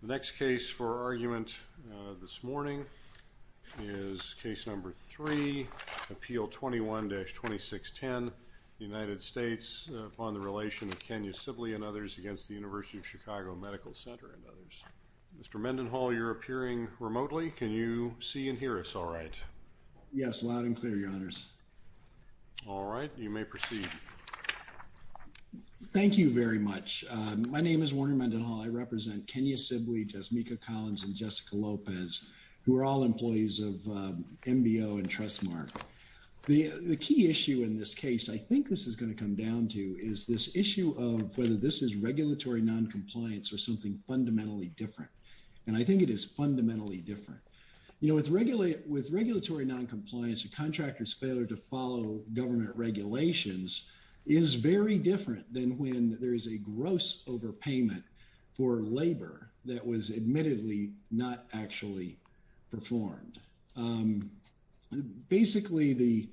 Center. The next case for argument this morning is case number three, Appeal 21-2610, United States upon the relation of Kenya Sibley and others against the University of Chicago Medical Center and others. Mr. Mendenhall, you're appearing remotely. Can you see and hear us all right? Yes, loud and clear, your honors. All right, you may proceed. Thank you very much. My name is Warner Mendenhall. I represent Kenya Sibley, Jasmika Collins, and Jessica Lopez, who are all employees of MBO and Trustmark. The key issue in this case, I think this is going to come down to, is this issue of whether this is regulatory noncompliance or something fundamentally different. And I think it is fundamentally different. You know, with regulatory noncompliance, a contractor's failure to follow government regulations is very different than when there is a gross overpayment for labor that was admittedly not actually performed. Basically, the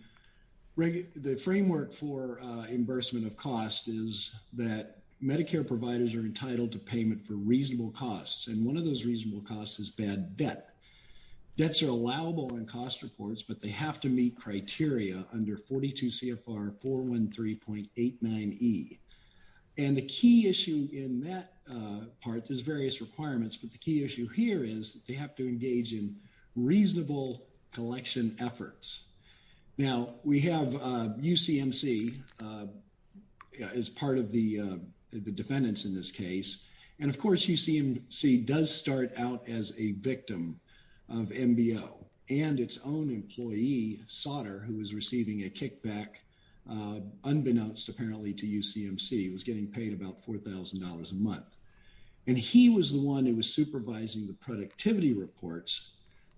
framework for reimbursement of cost is that Medicare providers are entitled to payment for reasonable costs. And one of those reasonable costs is bad debt. Debts are allowable in cost reports, but they have to meet criteria under 42 CFR 413.89E. And the key issue in that part, there's various requirements, but the key issue here is they have to engage in reasonable collection efforts. Now, we have UCMC as part of the defendants in this case. And of course, UCMC does start out as a victim of MBO and its own employee, Sauter, who was receiving a kickback unbeknownst, apparently, to UCMC. He was getting paid about $4,000 a month. And he was the one who was supervising the productivity reports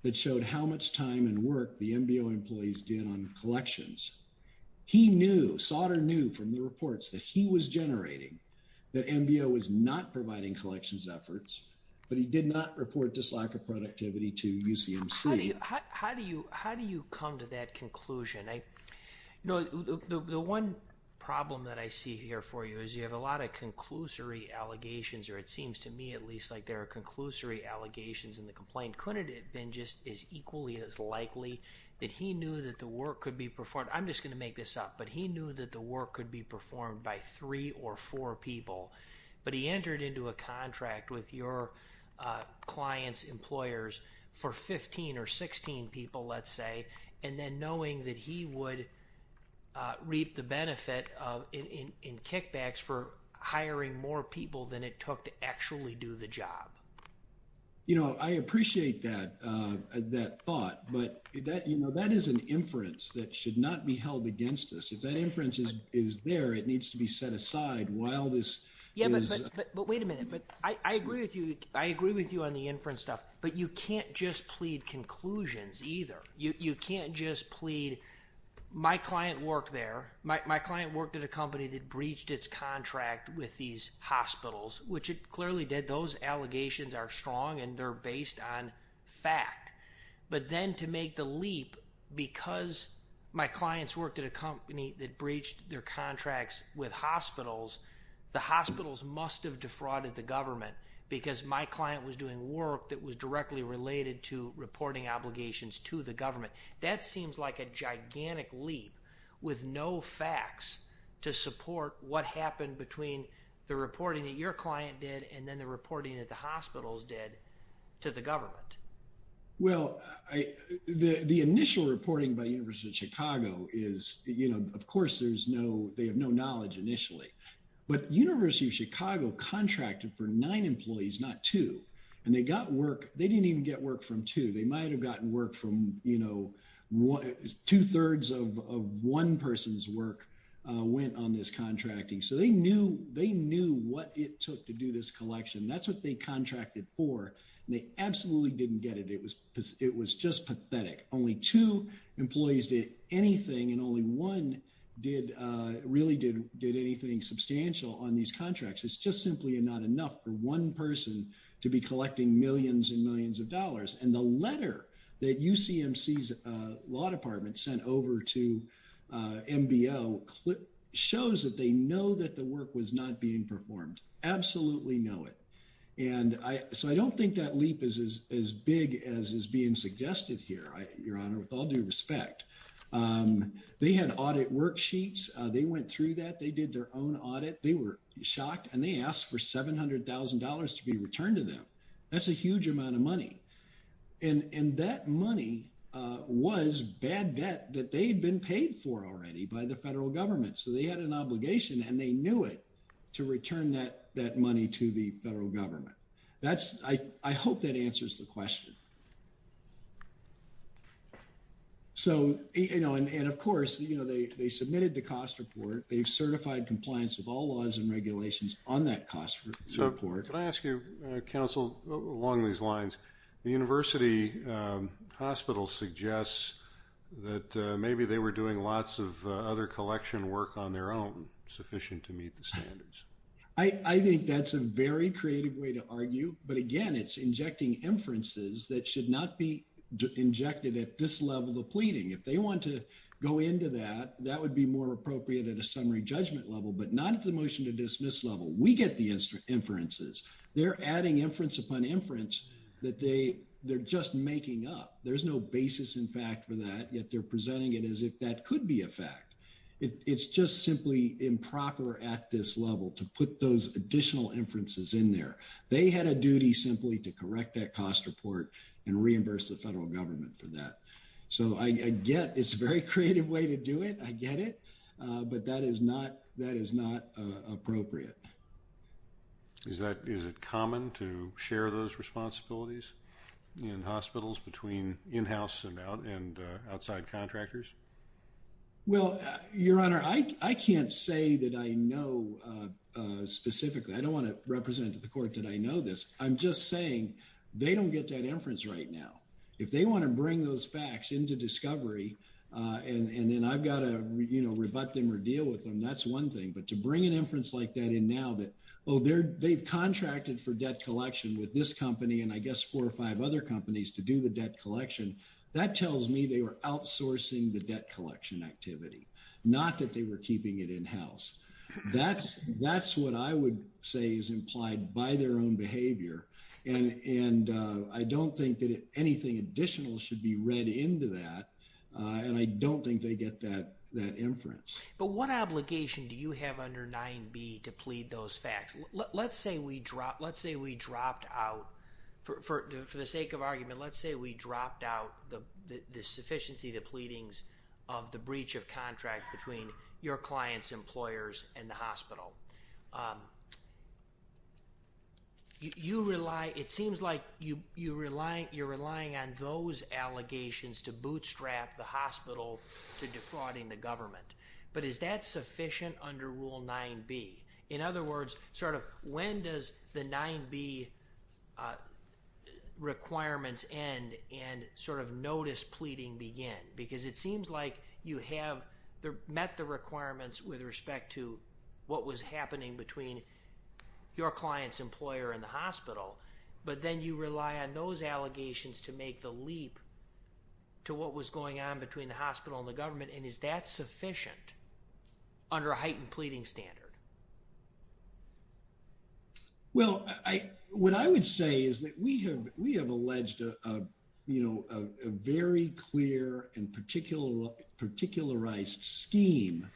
that showed how much time and work the MBO employees did on collections. He knew, Sauter knew from the reports that he was generating, that MBO was not providing collections efforts, but he did not report this lack of productivity to UCMC. How do you come to that conclusion? The one problem that I see here for you is you have a lot of conclusory allegations, or it seems to me at least like there are conclusory allegations in the complaint. Couldn't it have been just as equally as likely that he knew that the work could be performed? I'm just going to make this up, but he knew that the work could be performed by three or four people, but he entered into a contract with your client's employers for 15 or 16 people, let's say, and then knowing that he would reap the benefit of in kickbacks for hiring more people than it took to actually do the job. You know, I appreciate that thought, but that is an inference that should not be held against us. If that inference is there, it needs to be set aside while this is... Yeah, but wait a minute. I agree with you on the inference stuff, but you can't just plead conclusions either. You can't just plead, my client worked there. My client worked at a company that breached its contract with these hospitals, which it clearly did. Those allegations are strong and they're based on fact, but then to make the leap because my client was at a company that breached their contracts with hospitals, the hospitals must have defrauded the government because my client was doing work that was directly related to reporting obligations to the government. That seems like a gigantic leap with no facts to support what happened between the reporting that your client did and then the reporting that the hospitals did to the government. Well, the initial reporting by University of Chicago is, you know, of course, they have no knowledge initially, but University of Chicago contracted for nine employees, not two. And they got work, they didn't even get work from two. They might've gotten work from, you know, two thirds of one person's work went on this contracting. So they knew what it took to do this collection. That's what they contracted for. And they absolutely didn't get it. It was just pathetic. Only two employees did anything and only one really did anything substantial on these contracts. It's just simply not enough for one person to be collecting millions and millions of dollars. And the letter that UCMC's law department sent over to MBO shows that they know that the work was not being performed, absolutely know it. And so I don't think that leap is as big as is being suggested here, your honor, with all due respect. They had audit worksheets. They went through that. They did their own audit. They were shocked and they asked for $700,000 to be returned to them. That's a huge amount of money. And that money was bad debt that they'd been paid for already by the federal government. So they had an obligation and they knew it to return that money to the federal government. That's, I hope that answers the question. So, you know, and of course, you know, they submitted the cost report. They've certified compliance with all laws and regulations on that cost report. So can I ask you, counsel, along these lines, the university hospital suggests that maybe they were doing lots of other collection work on their own, sufficient to meet the standards. I think that's a very creative way to argue. But again, it's injecting inferences that should not be injected at this level of pleading. If they want to go into that, that would be more appropriate at a summary judgment level, but not at the motion to dismiss level. We get the inferences. They're adding inference upon inference that they they're just making up. There's no basis, in fact, for that. Yet they're presenting it as if that could be a fact. It's just simply improper at this level to put those additional inferences in there. They had a duty simply to correct that cost report and reimburse the federal government for that. So I get it's a very creative way to do it. I get it. But that is not that is not appropriate. Is that is it common to share those responsibilities in hospitals between in-house and out and outside contractors? Well, your honor, I can't say that I know specifically I don't want to represent the court that I know this. I'm just saying they don't get that inference right now. If they want to bring those facts into discovery and then I've got to rebut them or deal with them. That's one thing. But to bring an inference like that in now that, oh, they're they've contracted for debt collection with this company and I guess four or five other companies to do the debt collection. That tells me they were outsourcing the debt collection activity, not that they were keeping it in-house. That's that's what I would say is implied by their own behavior. And and I don't think that anything additional should be read into that. And I don't think they get that that inference. But what obligation do you have under 9b to plead those facts? Let's say we drop let's say we dropped out for the sake of argument. Let's say we dropped out the the sufficiency of the pleadings of the breach of contract between your clients, employers and the hospital. You rely it seems like you you rely you're relying on those allegations to bootstrap the hospital to defrauding the government. But is that sufficient under Rule 9b? In other words, sort of when does the 9b requirements end and sort of notice pleading begin? Because it seems like you have met the requirements with respect to what was happening between your client's employer and the hospital. But then you rely on those allegations to make the leap to what was going on between the hospital and the government. And is that sufficient under a heightened pleading standard? Well, I what I would say is that we have we have alleged a, you know, a very clear and particular, particularized scheme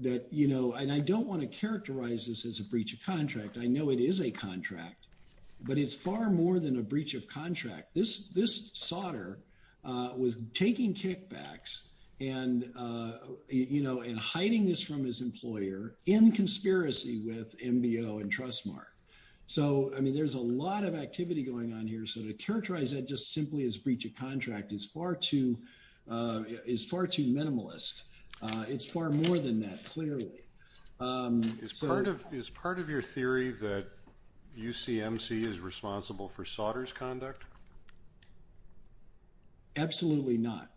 that you know, and I don't want to characterize this as a breach of contract. I know it is a contract, but it's far more than a breach of contract. This, this Sauter was taking kickbacks and, you know, and hiding this from his employer in conspiracy with MBO and Trustmark. So I mean, there's a lot of activity going on here. So to characterize that just simply as breach of contract is far too, is far too minimalist. It's far more than that, clearly. Is part of your theory that UCMC is responsible for Sauter's conduct? Absolutely not.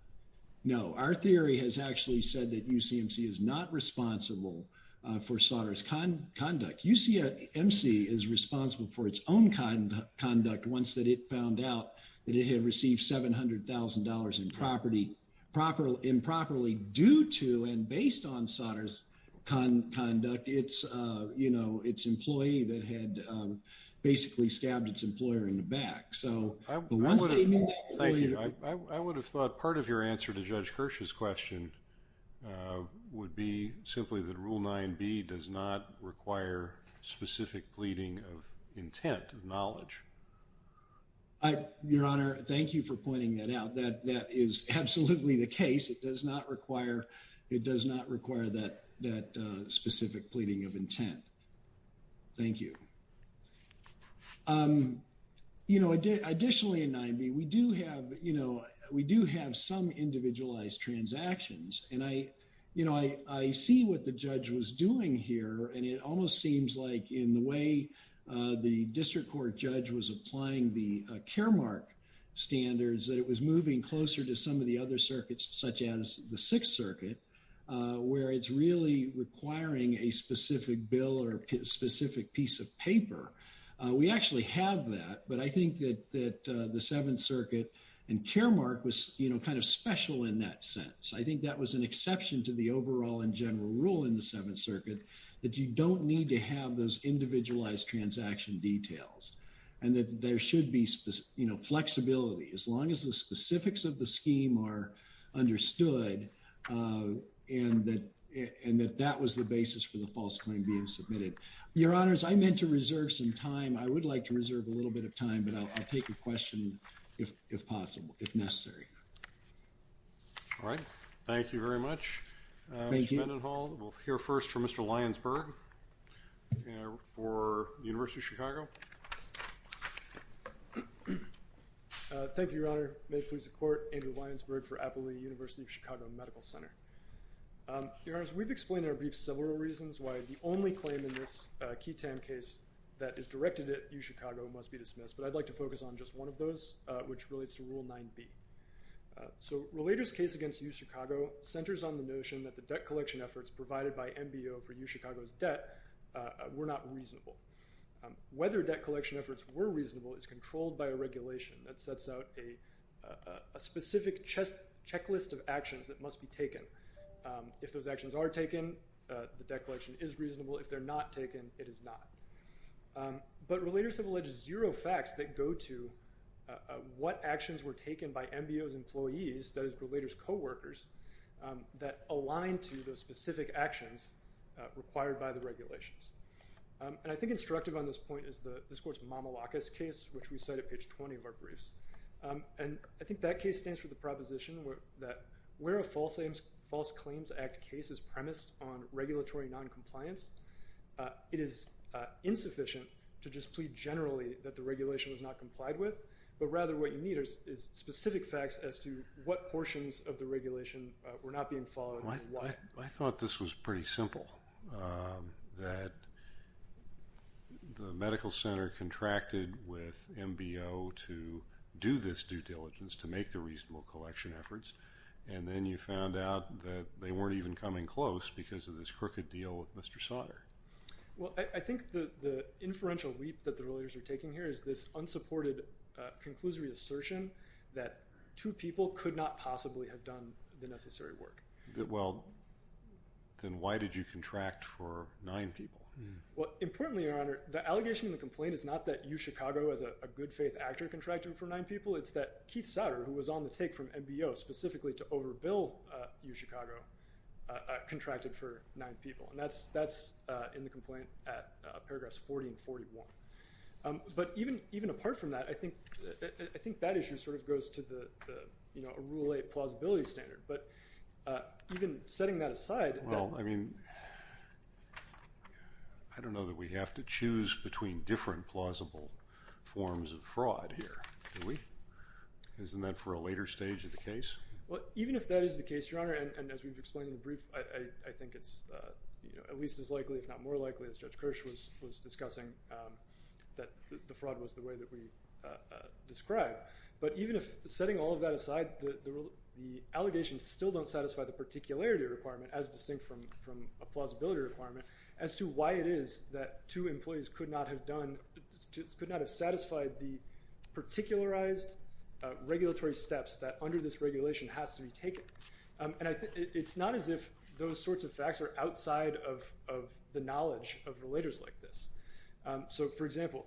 No, our theory has actually said that UCMC is not responsible for Sauter's conduct. UCMC is responsible for its own conduct once that it found out that it had received $700,000 in property properly improperly due to and based on Sauter's conduct. It's, you know, its employee that had basically stabbed its employer in the back. So I would have thought part of your answer to Judge Kirsch's question would be simply that Rule 9b does not require specific pleading of intent of knowledge. Your Honor, thank you for pointing that out. That, that is absolutely the case. It does not require, it does not require that, that specific pleading of intent. Thank you. You know, additionally in 9b, we do have, you know, we do have some individualized transactions and I, you know, I see what the judge was doing here and it almost seems like in the way the District Court judge was applying the Kermark standards that it was moving closer to some of the other circuits such as the Sixth Circuit where it's really requiring a specific bill or a specific piece of paper. We actually have that, but I think that the Seventh Circuit and Kermark was, you know, kind of special in that sense. I think that was an exception to the overall and general rule in the Seventh Circuit that you don't need to have those individualized transaction details and that there should be, you know, flexibility as long as the specifics of the scheme are understood and that, and that that was the basis for the false claim being submitted. Your Honors, I meant to reserve some time. I would like to reserve a little bit of time, but I'll take your question if possible, if necessary. All right. Thank you very much. Mr. Mendenhall, we'll hear first from Mr. Lyons-Berg for the University of Chicago. Thank you, Your Honor. May it please the Court, Andrew Lyons-Berg for Appalooh University of Chicago Medical Center. Your Honors, we've explained in our brief several reasons why the only claim in this QI-TAM case that is directed at UChicago must be dismissed, but I'd like to focus on just one of those, which relates to Rule 9b. So Relator's case against UChicago centers on the notion that the debt collection efforts provided by MBO for UChicago's debt were not reasonable. Whether debt collection efforts were reasonable is controlled by a regulation that sets out a specific checklist of actions that must be taken. If those actions are taken, the debt collection is reasonable. If they're not taken, it is not. But Relators have alleged zero facts that go to what actions were taken by MBO's employees, that is, Relator's co-workers, that aligned to the specific actions required by the regulations. And I think instructive on this point is this Court's Mamalakis case, which we cite at page 20 of our briefs. And I think that case stands for the proposition that where a False Claims Act case is premised on regulatory noncompliance, it is insufficient to just plead generally that the regulation was not complied with, but rather what you need is specific facts as to what portions of the regulation were not being followed and why. I thought this was pretty simple, that the medical center contracted with MBO to do this due diligence to make the reasonable collection efforts, and then you found out that they weren't even coming close because of this crooked deal with Mr. Sautter. Well, I think the inferential leap that the Relators are taking here is this unsupported conclusory assertion that two people could not possibly have done the necessary work. Well, then why did you contract for nine people? Well, importantly, Your Honor, the allegation in the complaint is not that you, Chicago, as a good-faith actor, contracted for nine people. It's that Keith Sautter, who was on the take from MBO specifically to overbill UChicago, contracted for nine people. And that's in the complaint at paragraphs 40 and 41. But even apart from that, I think that issue sort of goes to a Rule 8 plausibility standard. But even setting that aside... I mean, I don't know that we have to choose between different plausible forms of fraud here, do we? Isn't that for a later stage of the case? Well, even if that is the case, Your Honor, and as we've explained in the brief, I think it's at least as likely, if not more likely, as Judge Kirsch was discussing, that the fraud was the way that we described. But even if setting all of that aside, the allegations still don't satisfy the particularity requirement as distinct from a plausibility requirement as to why it is that two employees could not have done, could not have satisfied the particularized regulatory steps that under this regulation has to be taken. And it's not as if those sorts of facts are outside of the knowledge of relators like this. So, for example,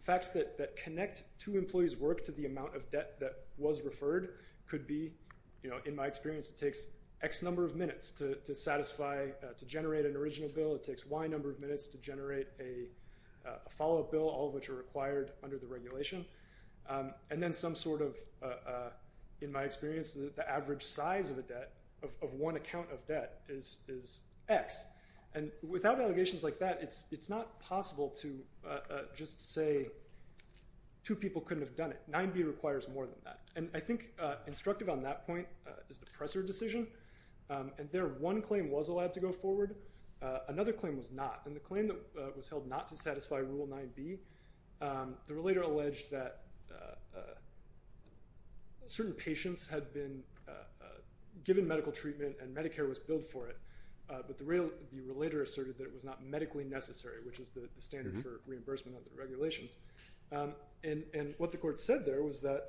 facts that connect two employees' work to the amount of debt that was referred could be, in my experience, it takes X number of minutes to satisfy, to generate an original bill. It takes Y number of minutes to generate a follow-up bill, all of which are required under the regulation. And then some sort of, in my experience, the average size of a debt, of one account of debt is X. And without allegations like that, it's not possible to just say two people couldn't have done it. 9B requires more than that. And I think instructive on that point is the Presser decision. And there, one claim was allowed to go forward. Another claim was not. And the claim that was held not to satisfy Rule 9B, the relator alleged that certain patients had been given medical treatment and Medicare was billed for it, but the relator asserted that it was not medically necessary, which is the standard for reimbursement under the regulations. And what the court said there was that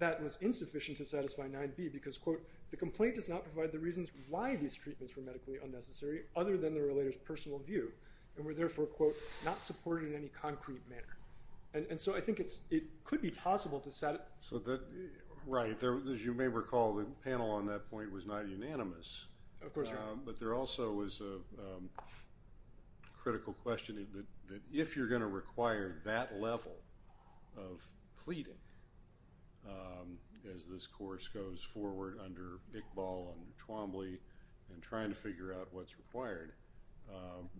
that was insufficient to satisfy 9B because, quote, the complaint does not provide the reasons why these treatments were medically unnecessary, other than the relator's personal view, and were therefore, quote, not supported in any concrete manner. And so I think it could be possible to satisfy. Right. As you may recall, the panel on that point was not unanimous. Of course not. But there also was a critical question that if you're going to require that level of pleading, as this course goes forward under Iqbal and Twombly and trying to figure out what's required,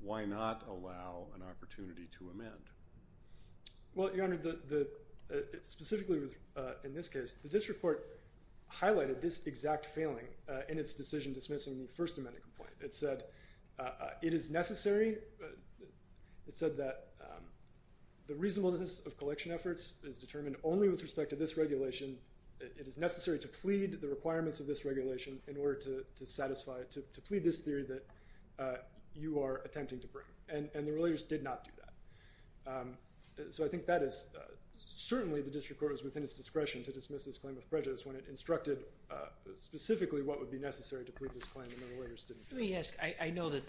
why not allow an opportunity to amend? Well, Your Honor, specifically in this case, the district court highlighted this exact failing in its decision dismissing the First Amendment complaint. It said it is necessary. It said that the reasonableness of collection efforts is determined only with respect to this regulation. It is necessary to plead the requirements of this regulation in order to satisfy it, to plead this theory that you are attempting to bring. And the relators did not do that. So I think that is certainly the district court was within its discretion to dismiss this claim with prejudice when it instructed specifically what would be necessary to plead this claim and the relators didn't do it. Let me ask. I know that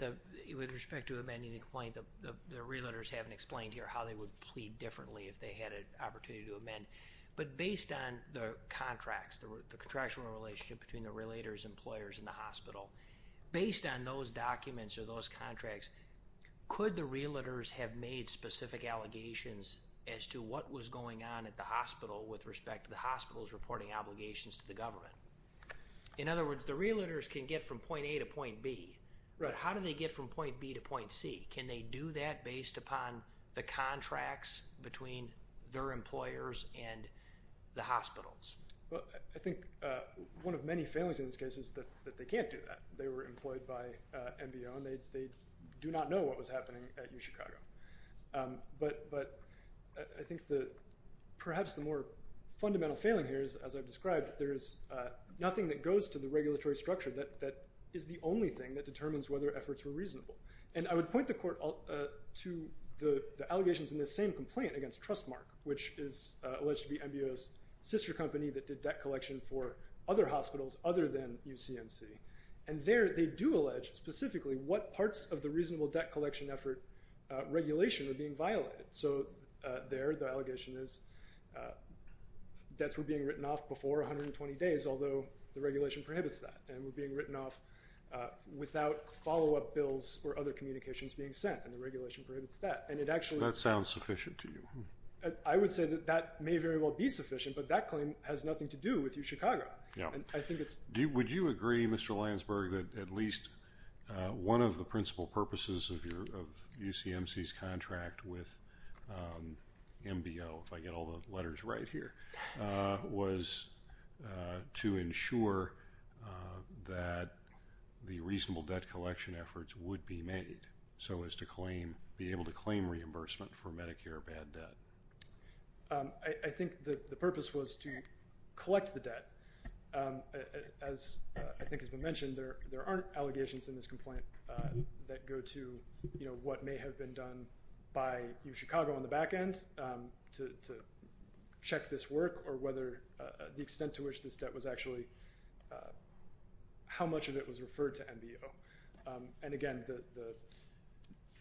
with respect to amending the complaint, the relators haven't explained here how they would plead differently if they had an opportunity to amend. But based on the contracts, the contractual relationship between the relators, employers, and the hospital, based on those documents or those contracts, could the relators have made specific allegations as to what was going on at the hospital with respect to the hospital's reporting obligations to the government? In other words, the relators can get from point A to point B, but how do they get from point B to point C? Can they do that based upon the contracts between their employers and the hospitals? I think one of many failings in this case is that they can't do that. They were employed by MBO and they do not know what was happening at UChicago. But I think perhaps the more fundamental failing here is, as I've described, there is nothing that goes to the regulatory structure that is the only thing that determines whether efforts were reasonable. And I would point the court to the allegations in this same complaint against Trustmark, which is alleged to be MBO's sister company that did debt collection for other hospitals other than UCMC. And there they do allege specifically what parts of the reasonable debt collection effort regulation were being violated. So there the allegation is debts were being written off before 120 days, although the regulation prohibits that, and were being written off without follow-up bills or other communications being sent, and the regulation prohibits that. That sounds sufficient to you. I would say that that may very well be sufficient, but that claim has nothing to do with UChicago. Would you agree, Mr. Landsberg, that at least one of the principal purposes of UCMC's contract with MBO, if I get all the letters right here, was to ensure that the reasonable debt collection efforts would be made so as to be able to claim reimbursement for Medicare bad debt? I think the purpose was to collect the debt. As I think has been mentioned, there aren't allegations in this complaint that go to what may have been done by UChicago on the back end to check this work or whether the extent to which this debt was actually, how much of it was referred to MBO. And again, the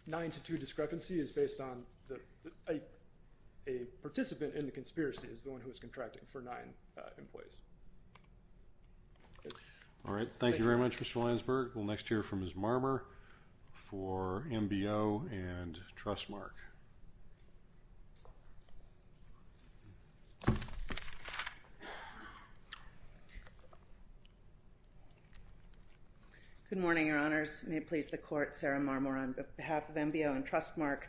nine-to-two discrepancy is based on a participant in the conspiracy is the one who is contracting for nine employees. All right. Thank you very much, Mr. Landsberg. We'll next hear from Ms. Marmer for MBO and Trustmark. Good morning, Your Honors. May it please the Court, Sarah Marmer on behalf of MBO and Trustmark.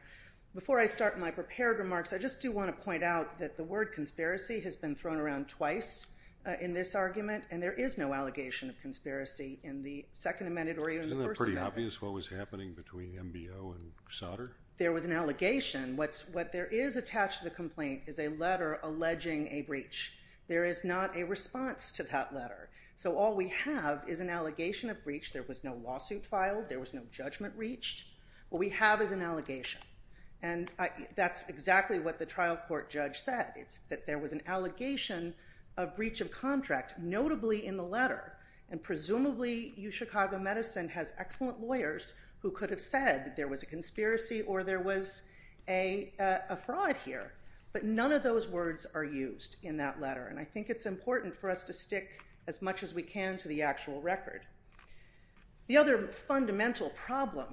Before I start my prepared remarks, I just do want to point out that the word conspiracy has been thrown around twice in this argument, and there is no allegation of conspiracy in the Second Amendment or even the First Amendment. Isn't that pretty obvious, what was happening between MBO and Sodder? There was an allegation. What there is attached to the complaint is a letter alleging a breach. There is not a response to that letter. So all we have is an allegation of breach. There was no lawsuit filed. There was no judgment reached. What we have is an allegation, and that's exactly what the trial court judge said. It's that there was an allegation of breach of contract, notably in the letter, and presumably UChicago Medicine has excellent lawyers who could have said there was a conspiracy or there was a fraud here, but none of those words are used in that letter, and I think it's important for us to stick as much as we can to the actual record. The other fundamental problem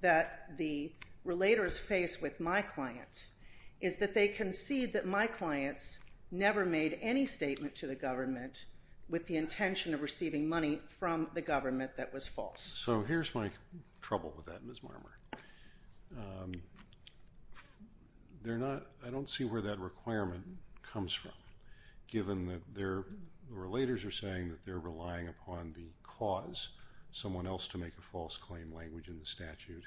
that the relators face with my clients is that they concede that my clients never made any statement to the government with the intention of receiving money from the government that was false. So here's my trouble with that, Ms. Marmer. I don't see where that requirement comes from, given that the relators are saying that they're relying upon the cause, someone else to make a false claim language in the statute,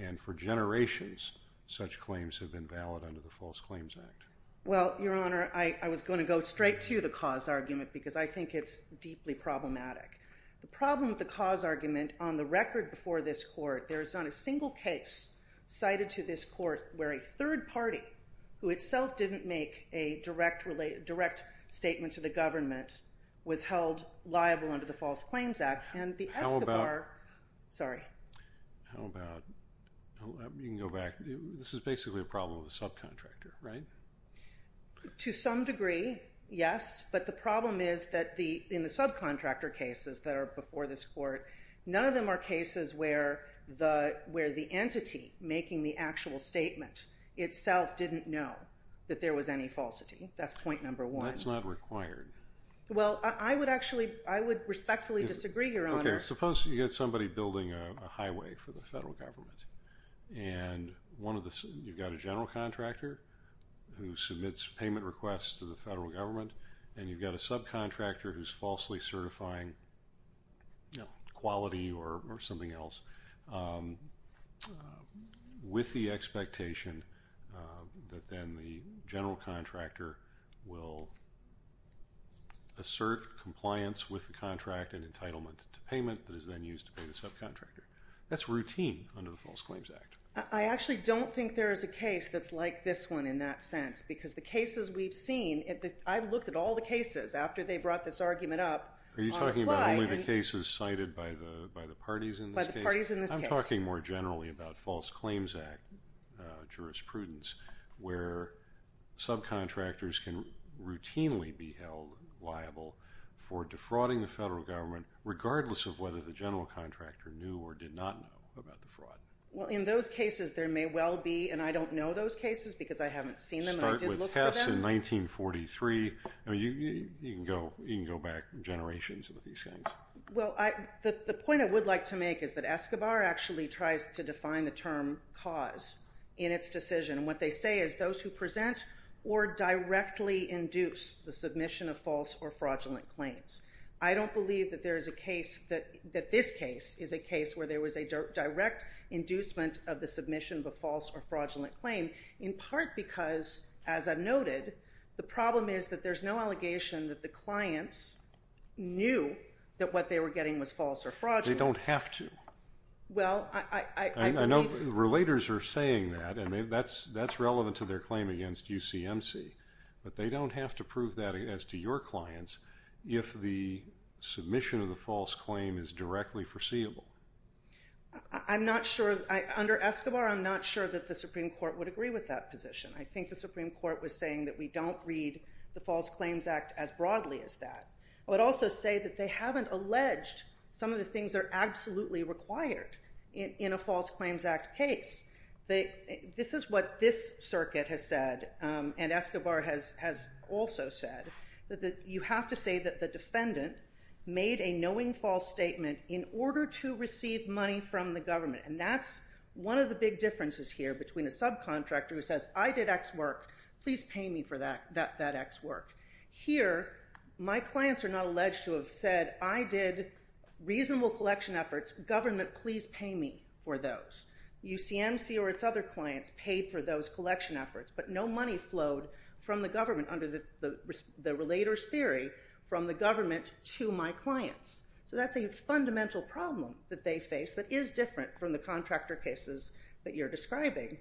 and for generations such claims have been valid under the False Claims Act. Well, Your Honor, I was going to go straight to the cause argument because I think it's deeply problematic. The problem with the cause argument, on the record before this court, there is not a single case cited to this court where a third party, who itself didn't make a direct statement to the government, was held liable under the False Claims Act, and the Escobar... How about... Sorry. To some degree, yes, but the problem is that in the subcontractor cases that are before this court, none of them are cases where the entity making the actual statement itself didn't know that there was any falsity. That's point number one. That's not required. Well, I would respectfully disagree, Your Honor. Okay, suppose you get somebody building a highway for the federal government, and you've got a general contractor who submits payment requests to the federal government, and you've got a subcontractor who's falsely certifying quality or something else with the expectation that then the general contractor will assert compliance with the contract and entitlement to payment that is then used to pay the subcontractor. That's routine under the False Claims Act. I actually don't think there is a case that's like this one in that sense, because the cases we've seen, I've looked at all the cases after they brought this argument up. Are you talking about only the cases cited by the parties in this case? By the parties in this case. I'm talking more generally about False Claims Act jurisprudence, where subcontractors can routinely be held liable for defrauding the federal government, regardless of whether the general contractor knew or did not know about the fraud. Well, in those cases, there may well be, and I don't know those cases because I haven't seen them, and I did look for them. Start with Hess in 1943. You can go back generations with these things. Well, the point I would like to make is that Escobar actually tries to define the term cause in its decision, and what they say is those who present or directly induce the submission of false or fraudulent claims. I don't believe that this case is a case where there was a direct inducement of the submission of a false or fraudulent claim, in part because, as I've noted, the problem is that there's no allegation that the clients knew that what they were getting was false or fraudulent. They don't have to. Well, I believe... I know the relators are saying that, and that's relevant to their claim against UCMC, but they don't have to prove that as to your clients if the submission of the false claim is directly foreseeable. I'm not sure. Under Escobar, I'm not sure that the Supreme Court would agree with that position. I think the Supreme Court was saying that we don't read the False Claims Act as broadly as that. I would also say that they haven't alleged some of the things that are absolutely required in a False Claims Act case. This is what this circuit has said, and Escobar has also said, that you have to say that the defendant made a knowing false statement in order to receive money from the government, and that's one of the big differences here between a subcontractor who says, I did X work. Please pay me for that X work. Here, my clients are not alleged to have said, I did reasonable collection efforts. Government, please pay me for those. UCMC or its other clients paid for those collection efforts, but no money flowed from the government under the Relators Theory from the government to my clients. So that's a fundamental problem that they face that is different from the contractor cases that you're describing.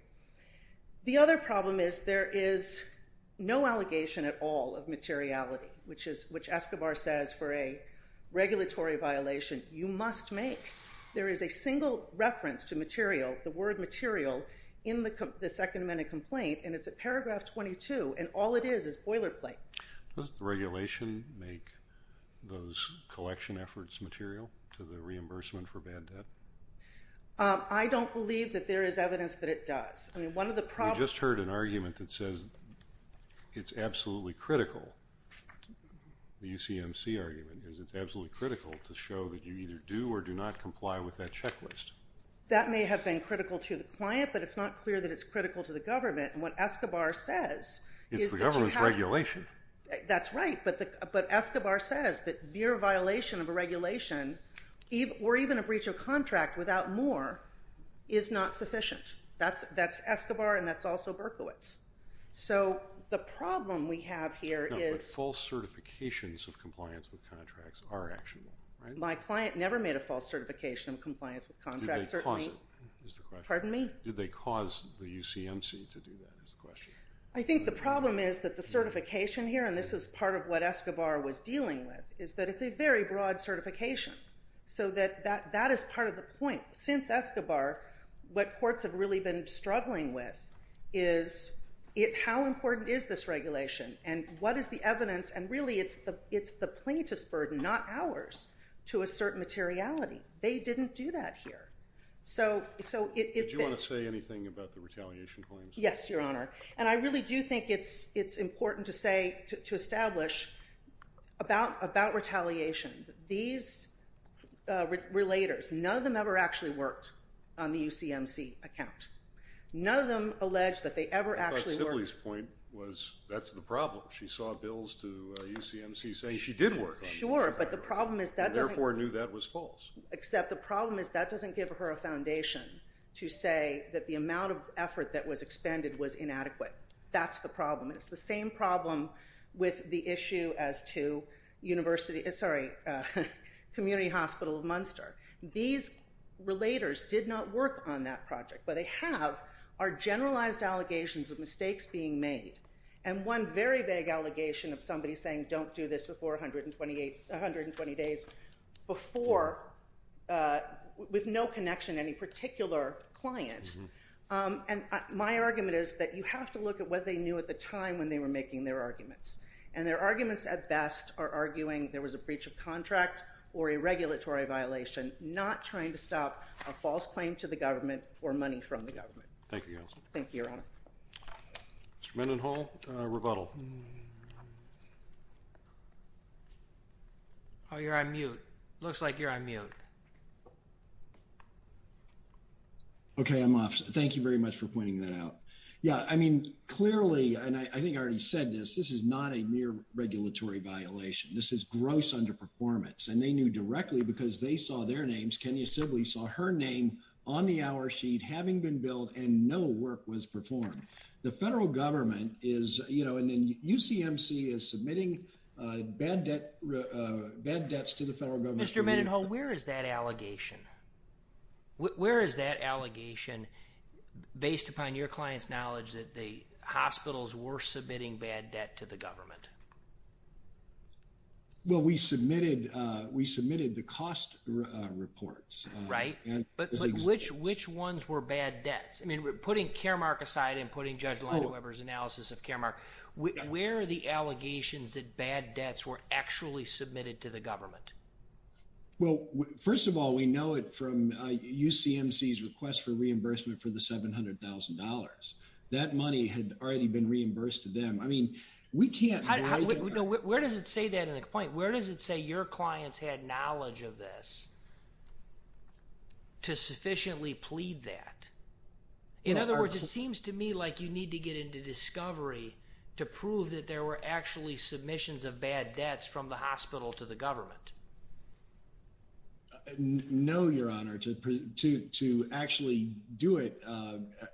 The other problem is there is no allegation at all of materiality, which Escobar says for a regulatory violation you must make. There is a single reference to material, the word material, in the Second Amendment complaint, and it's at paragraph 22, and all it is is boilerplate. Does the regulation make those collection efforts material to the reimbursement for bad debt? I don't believe that there is evidence that it does. We just heard an argument that says it's absolutely critical, the UCMC argument is it's absolutely critical to show that you either do or do not comply with that checklist. That may have been critical to the client, but it's not clear that it's critical to the government, and what Escobar says is that you have to. It's the government's regulation. That's right, but Escobar says that mere violation of a regulation, or even a breach of contract without more, is not sufficient. That's Escobar, and that's also Berkowitz. So the problem we have here is... No, but false certifications of compliance with contracts are actionable, right? My client never made a false certification of compliance with contracts. Did they cause it, is the question. Pardon me? Did they cause the UCMC to do that, is the question. I think the problem is that the certification here, and this is part of what Escobar was dealing with, is that it's a very broad certification, so that is part of the point. Since Escobar, what courts have really been struggling with is how important is this regulation, and what is the evidence, and really it's the plaintiff's burden, not ours, to assert materiality. They didn't do that here. Did you want to say anything about the retaliation claims? Yes, Your Honor, and I really do think it's important to establish about retaliation. These relators, none of them ever actually worked on the UCMC account. None of them alleged that they ever actually worked. I thought Sibley's point was that's the problem. She saw bills to UCMC saying she did work on it. Sure, but the problem is that doesn't... And therefore knew that was false. Except the problem is that doesn't give her a foundation to say that the amount of effort that was expended was inadequate. That's the problem. It's the same problem with the issue as to University... Sorry, Community Hospital of Munster. These relators did not work on that project, but they have our generalized allegations of mistakes being made, and one very vague allegation of somebody saying don't do this before 120 days before with no connection to any particular client. And my argument is that you have to look at what they knew at the time when they were making their arguments, and their arguments at best are arguing there was a breach of contract or a regulatory violation, not trying to stop a false claim to the government or money from the government. Thank you, Counsel. Thank you, Your Honor. Mr. Mendenhall, rebuttal. Looks like you're on mute. Okay, I'm off. Thank you very much for pointing that out. Yeah, I mean, clearly, and I think I already said this, this is not a mere regulatory violation. This is gross underperformance, and they knew directly because they saw their names. Kenya Sibley saw her name on the hour sheet having been billed, and no work was performed. The federal government is, you know, and then UCMC is submitting bad debts to the federal government. Mr. Mendenhall, where is that allegation? Where is that allegation based upon your client's knowledge that the hospitals were submitting bad debt to the government? Well, we submitted the cost reports. Right. But which ones were bad debts? I mean, putting Caremark aside and putting Judge Lina Weber's analysis of Caremark, where are the allegations that bad debts were actually submitted to the government? Well, first of all, we know it from UCMC's request for reimbursement for the $700,000. That money had already been reimbursed to them. I mean, we can't— No, where does it say that in the complaint? Where does it say your clients had knowledge of this to sufficiently plead that? In other words, it seems to me like you need to get into discovery to prove that there were actually submissions of bad debts from the hospital to the government. No, Your Honor. To actually do it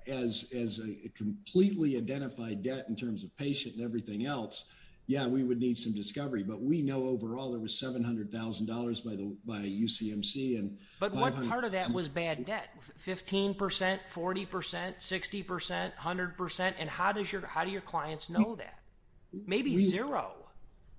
as a completely identified debt in terms of patient and everything else, yeah, we would need some discovery. But we know overall there was $700,000 by UCMC and— But what part of that was bad debt? 15 percent, 40 percent, 60 percent, 100 percent? And how do your clients know that? Maybe zero.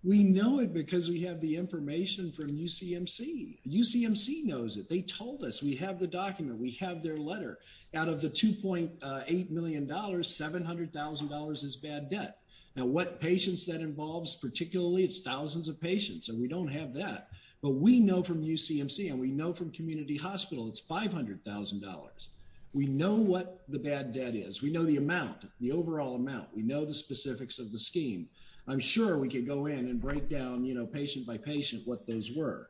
We know it because we have the information from UCMC. UCMC knows it. They told us. We have the document. We have their letter. Out of the $2.8 million, $700,000 is bad debt. Now, what patients that involves particularly, it's thousands of patients, and we don't have that. But we know from UCMC and we know from community hospital it's $500,000. We know what the bad debt is. We know the amount, the overall amount. We know the specifics of the scheme. I'm sure we could go in and break down patient by patient what those were.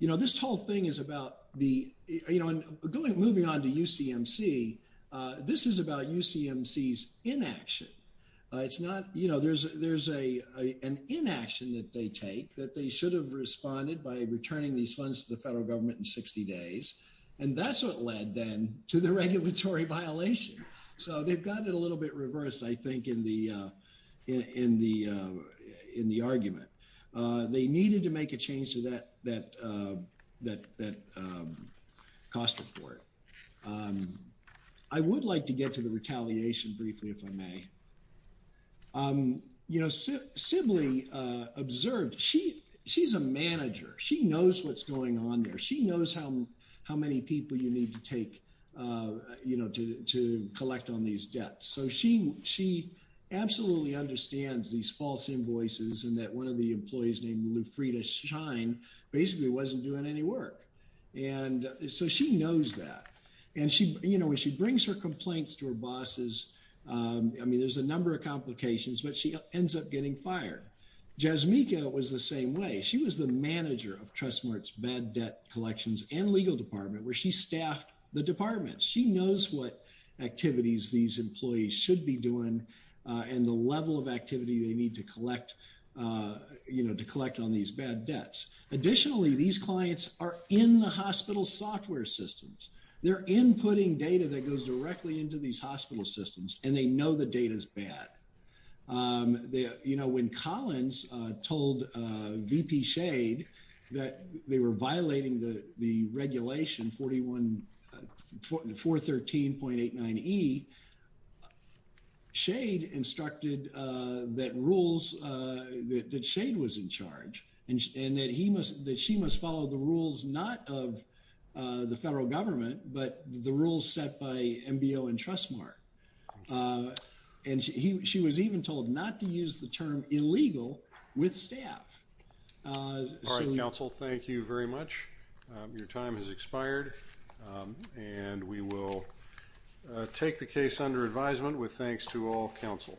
This whole thing is about the—moving on to UCMC, this is about UCMC's inaction. It's not—you know, there's an inaction that they take that they should have responded by returning these funds to the federal government in 60 days, and that's what led then to the regulatory violation. So they've gotten it a little bit reversed, I think, in the argument. They needed to make a change to that cost report. I would like to get to the retaliation briefly, if I may. You know, Sibley observed. She's a manager. She knows what's going on there. She knows how many people you need to take, you know, to collect on these debts. So she absolutely understands these false invoices and that one of the employees named Lufrida Shine basically wasn't doing any work. And so she knows that. And, you know, when she brings her complaints to her bosses, I mean, there's a number of complications, but she ends up getting fired. Jasmika was the same way. She was the manager of Trust Mart's bad debt collections and legal department where she staffed the department. She knows what activities these employees should be doing and the level of activity they need to collect, you know, to collect on these bad debts. Additionally, these clients are in the hospital software systems. They're inputting data that goes directly into these hospital systems, and they know the data is bad. You know, when Collins told VP Shade that they were violating the regulation 413.89E, Shade instructed that rules that Shade was in charge and that she must follow the rules not of the federal government, but the rules set by MBO and Trust Mart. And she was even told not to use the term illegal with staff. All right, counsel, thank you very much. Your time has expired, and we will take the case under advisement with thanks to all counsel.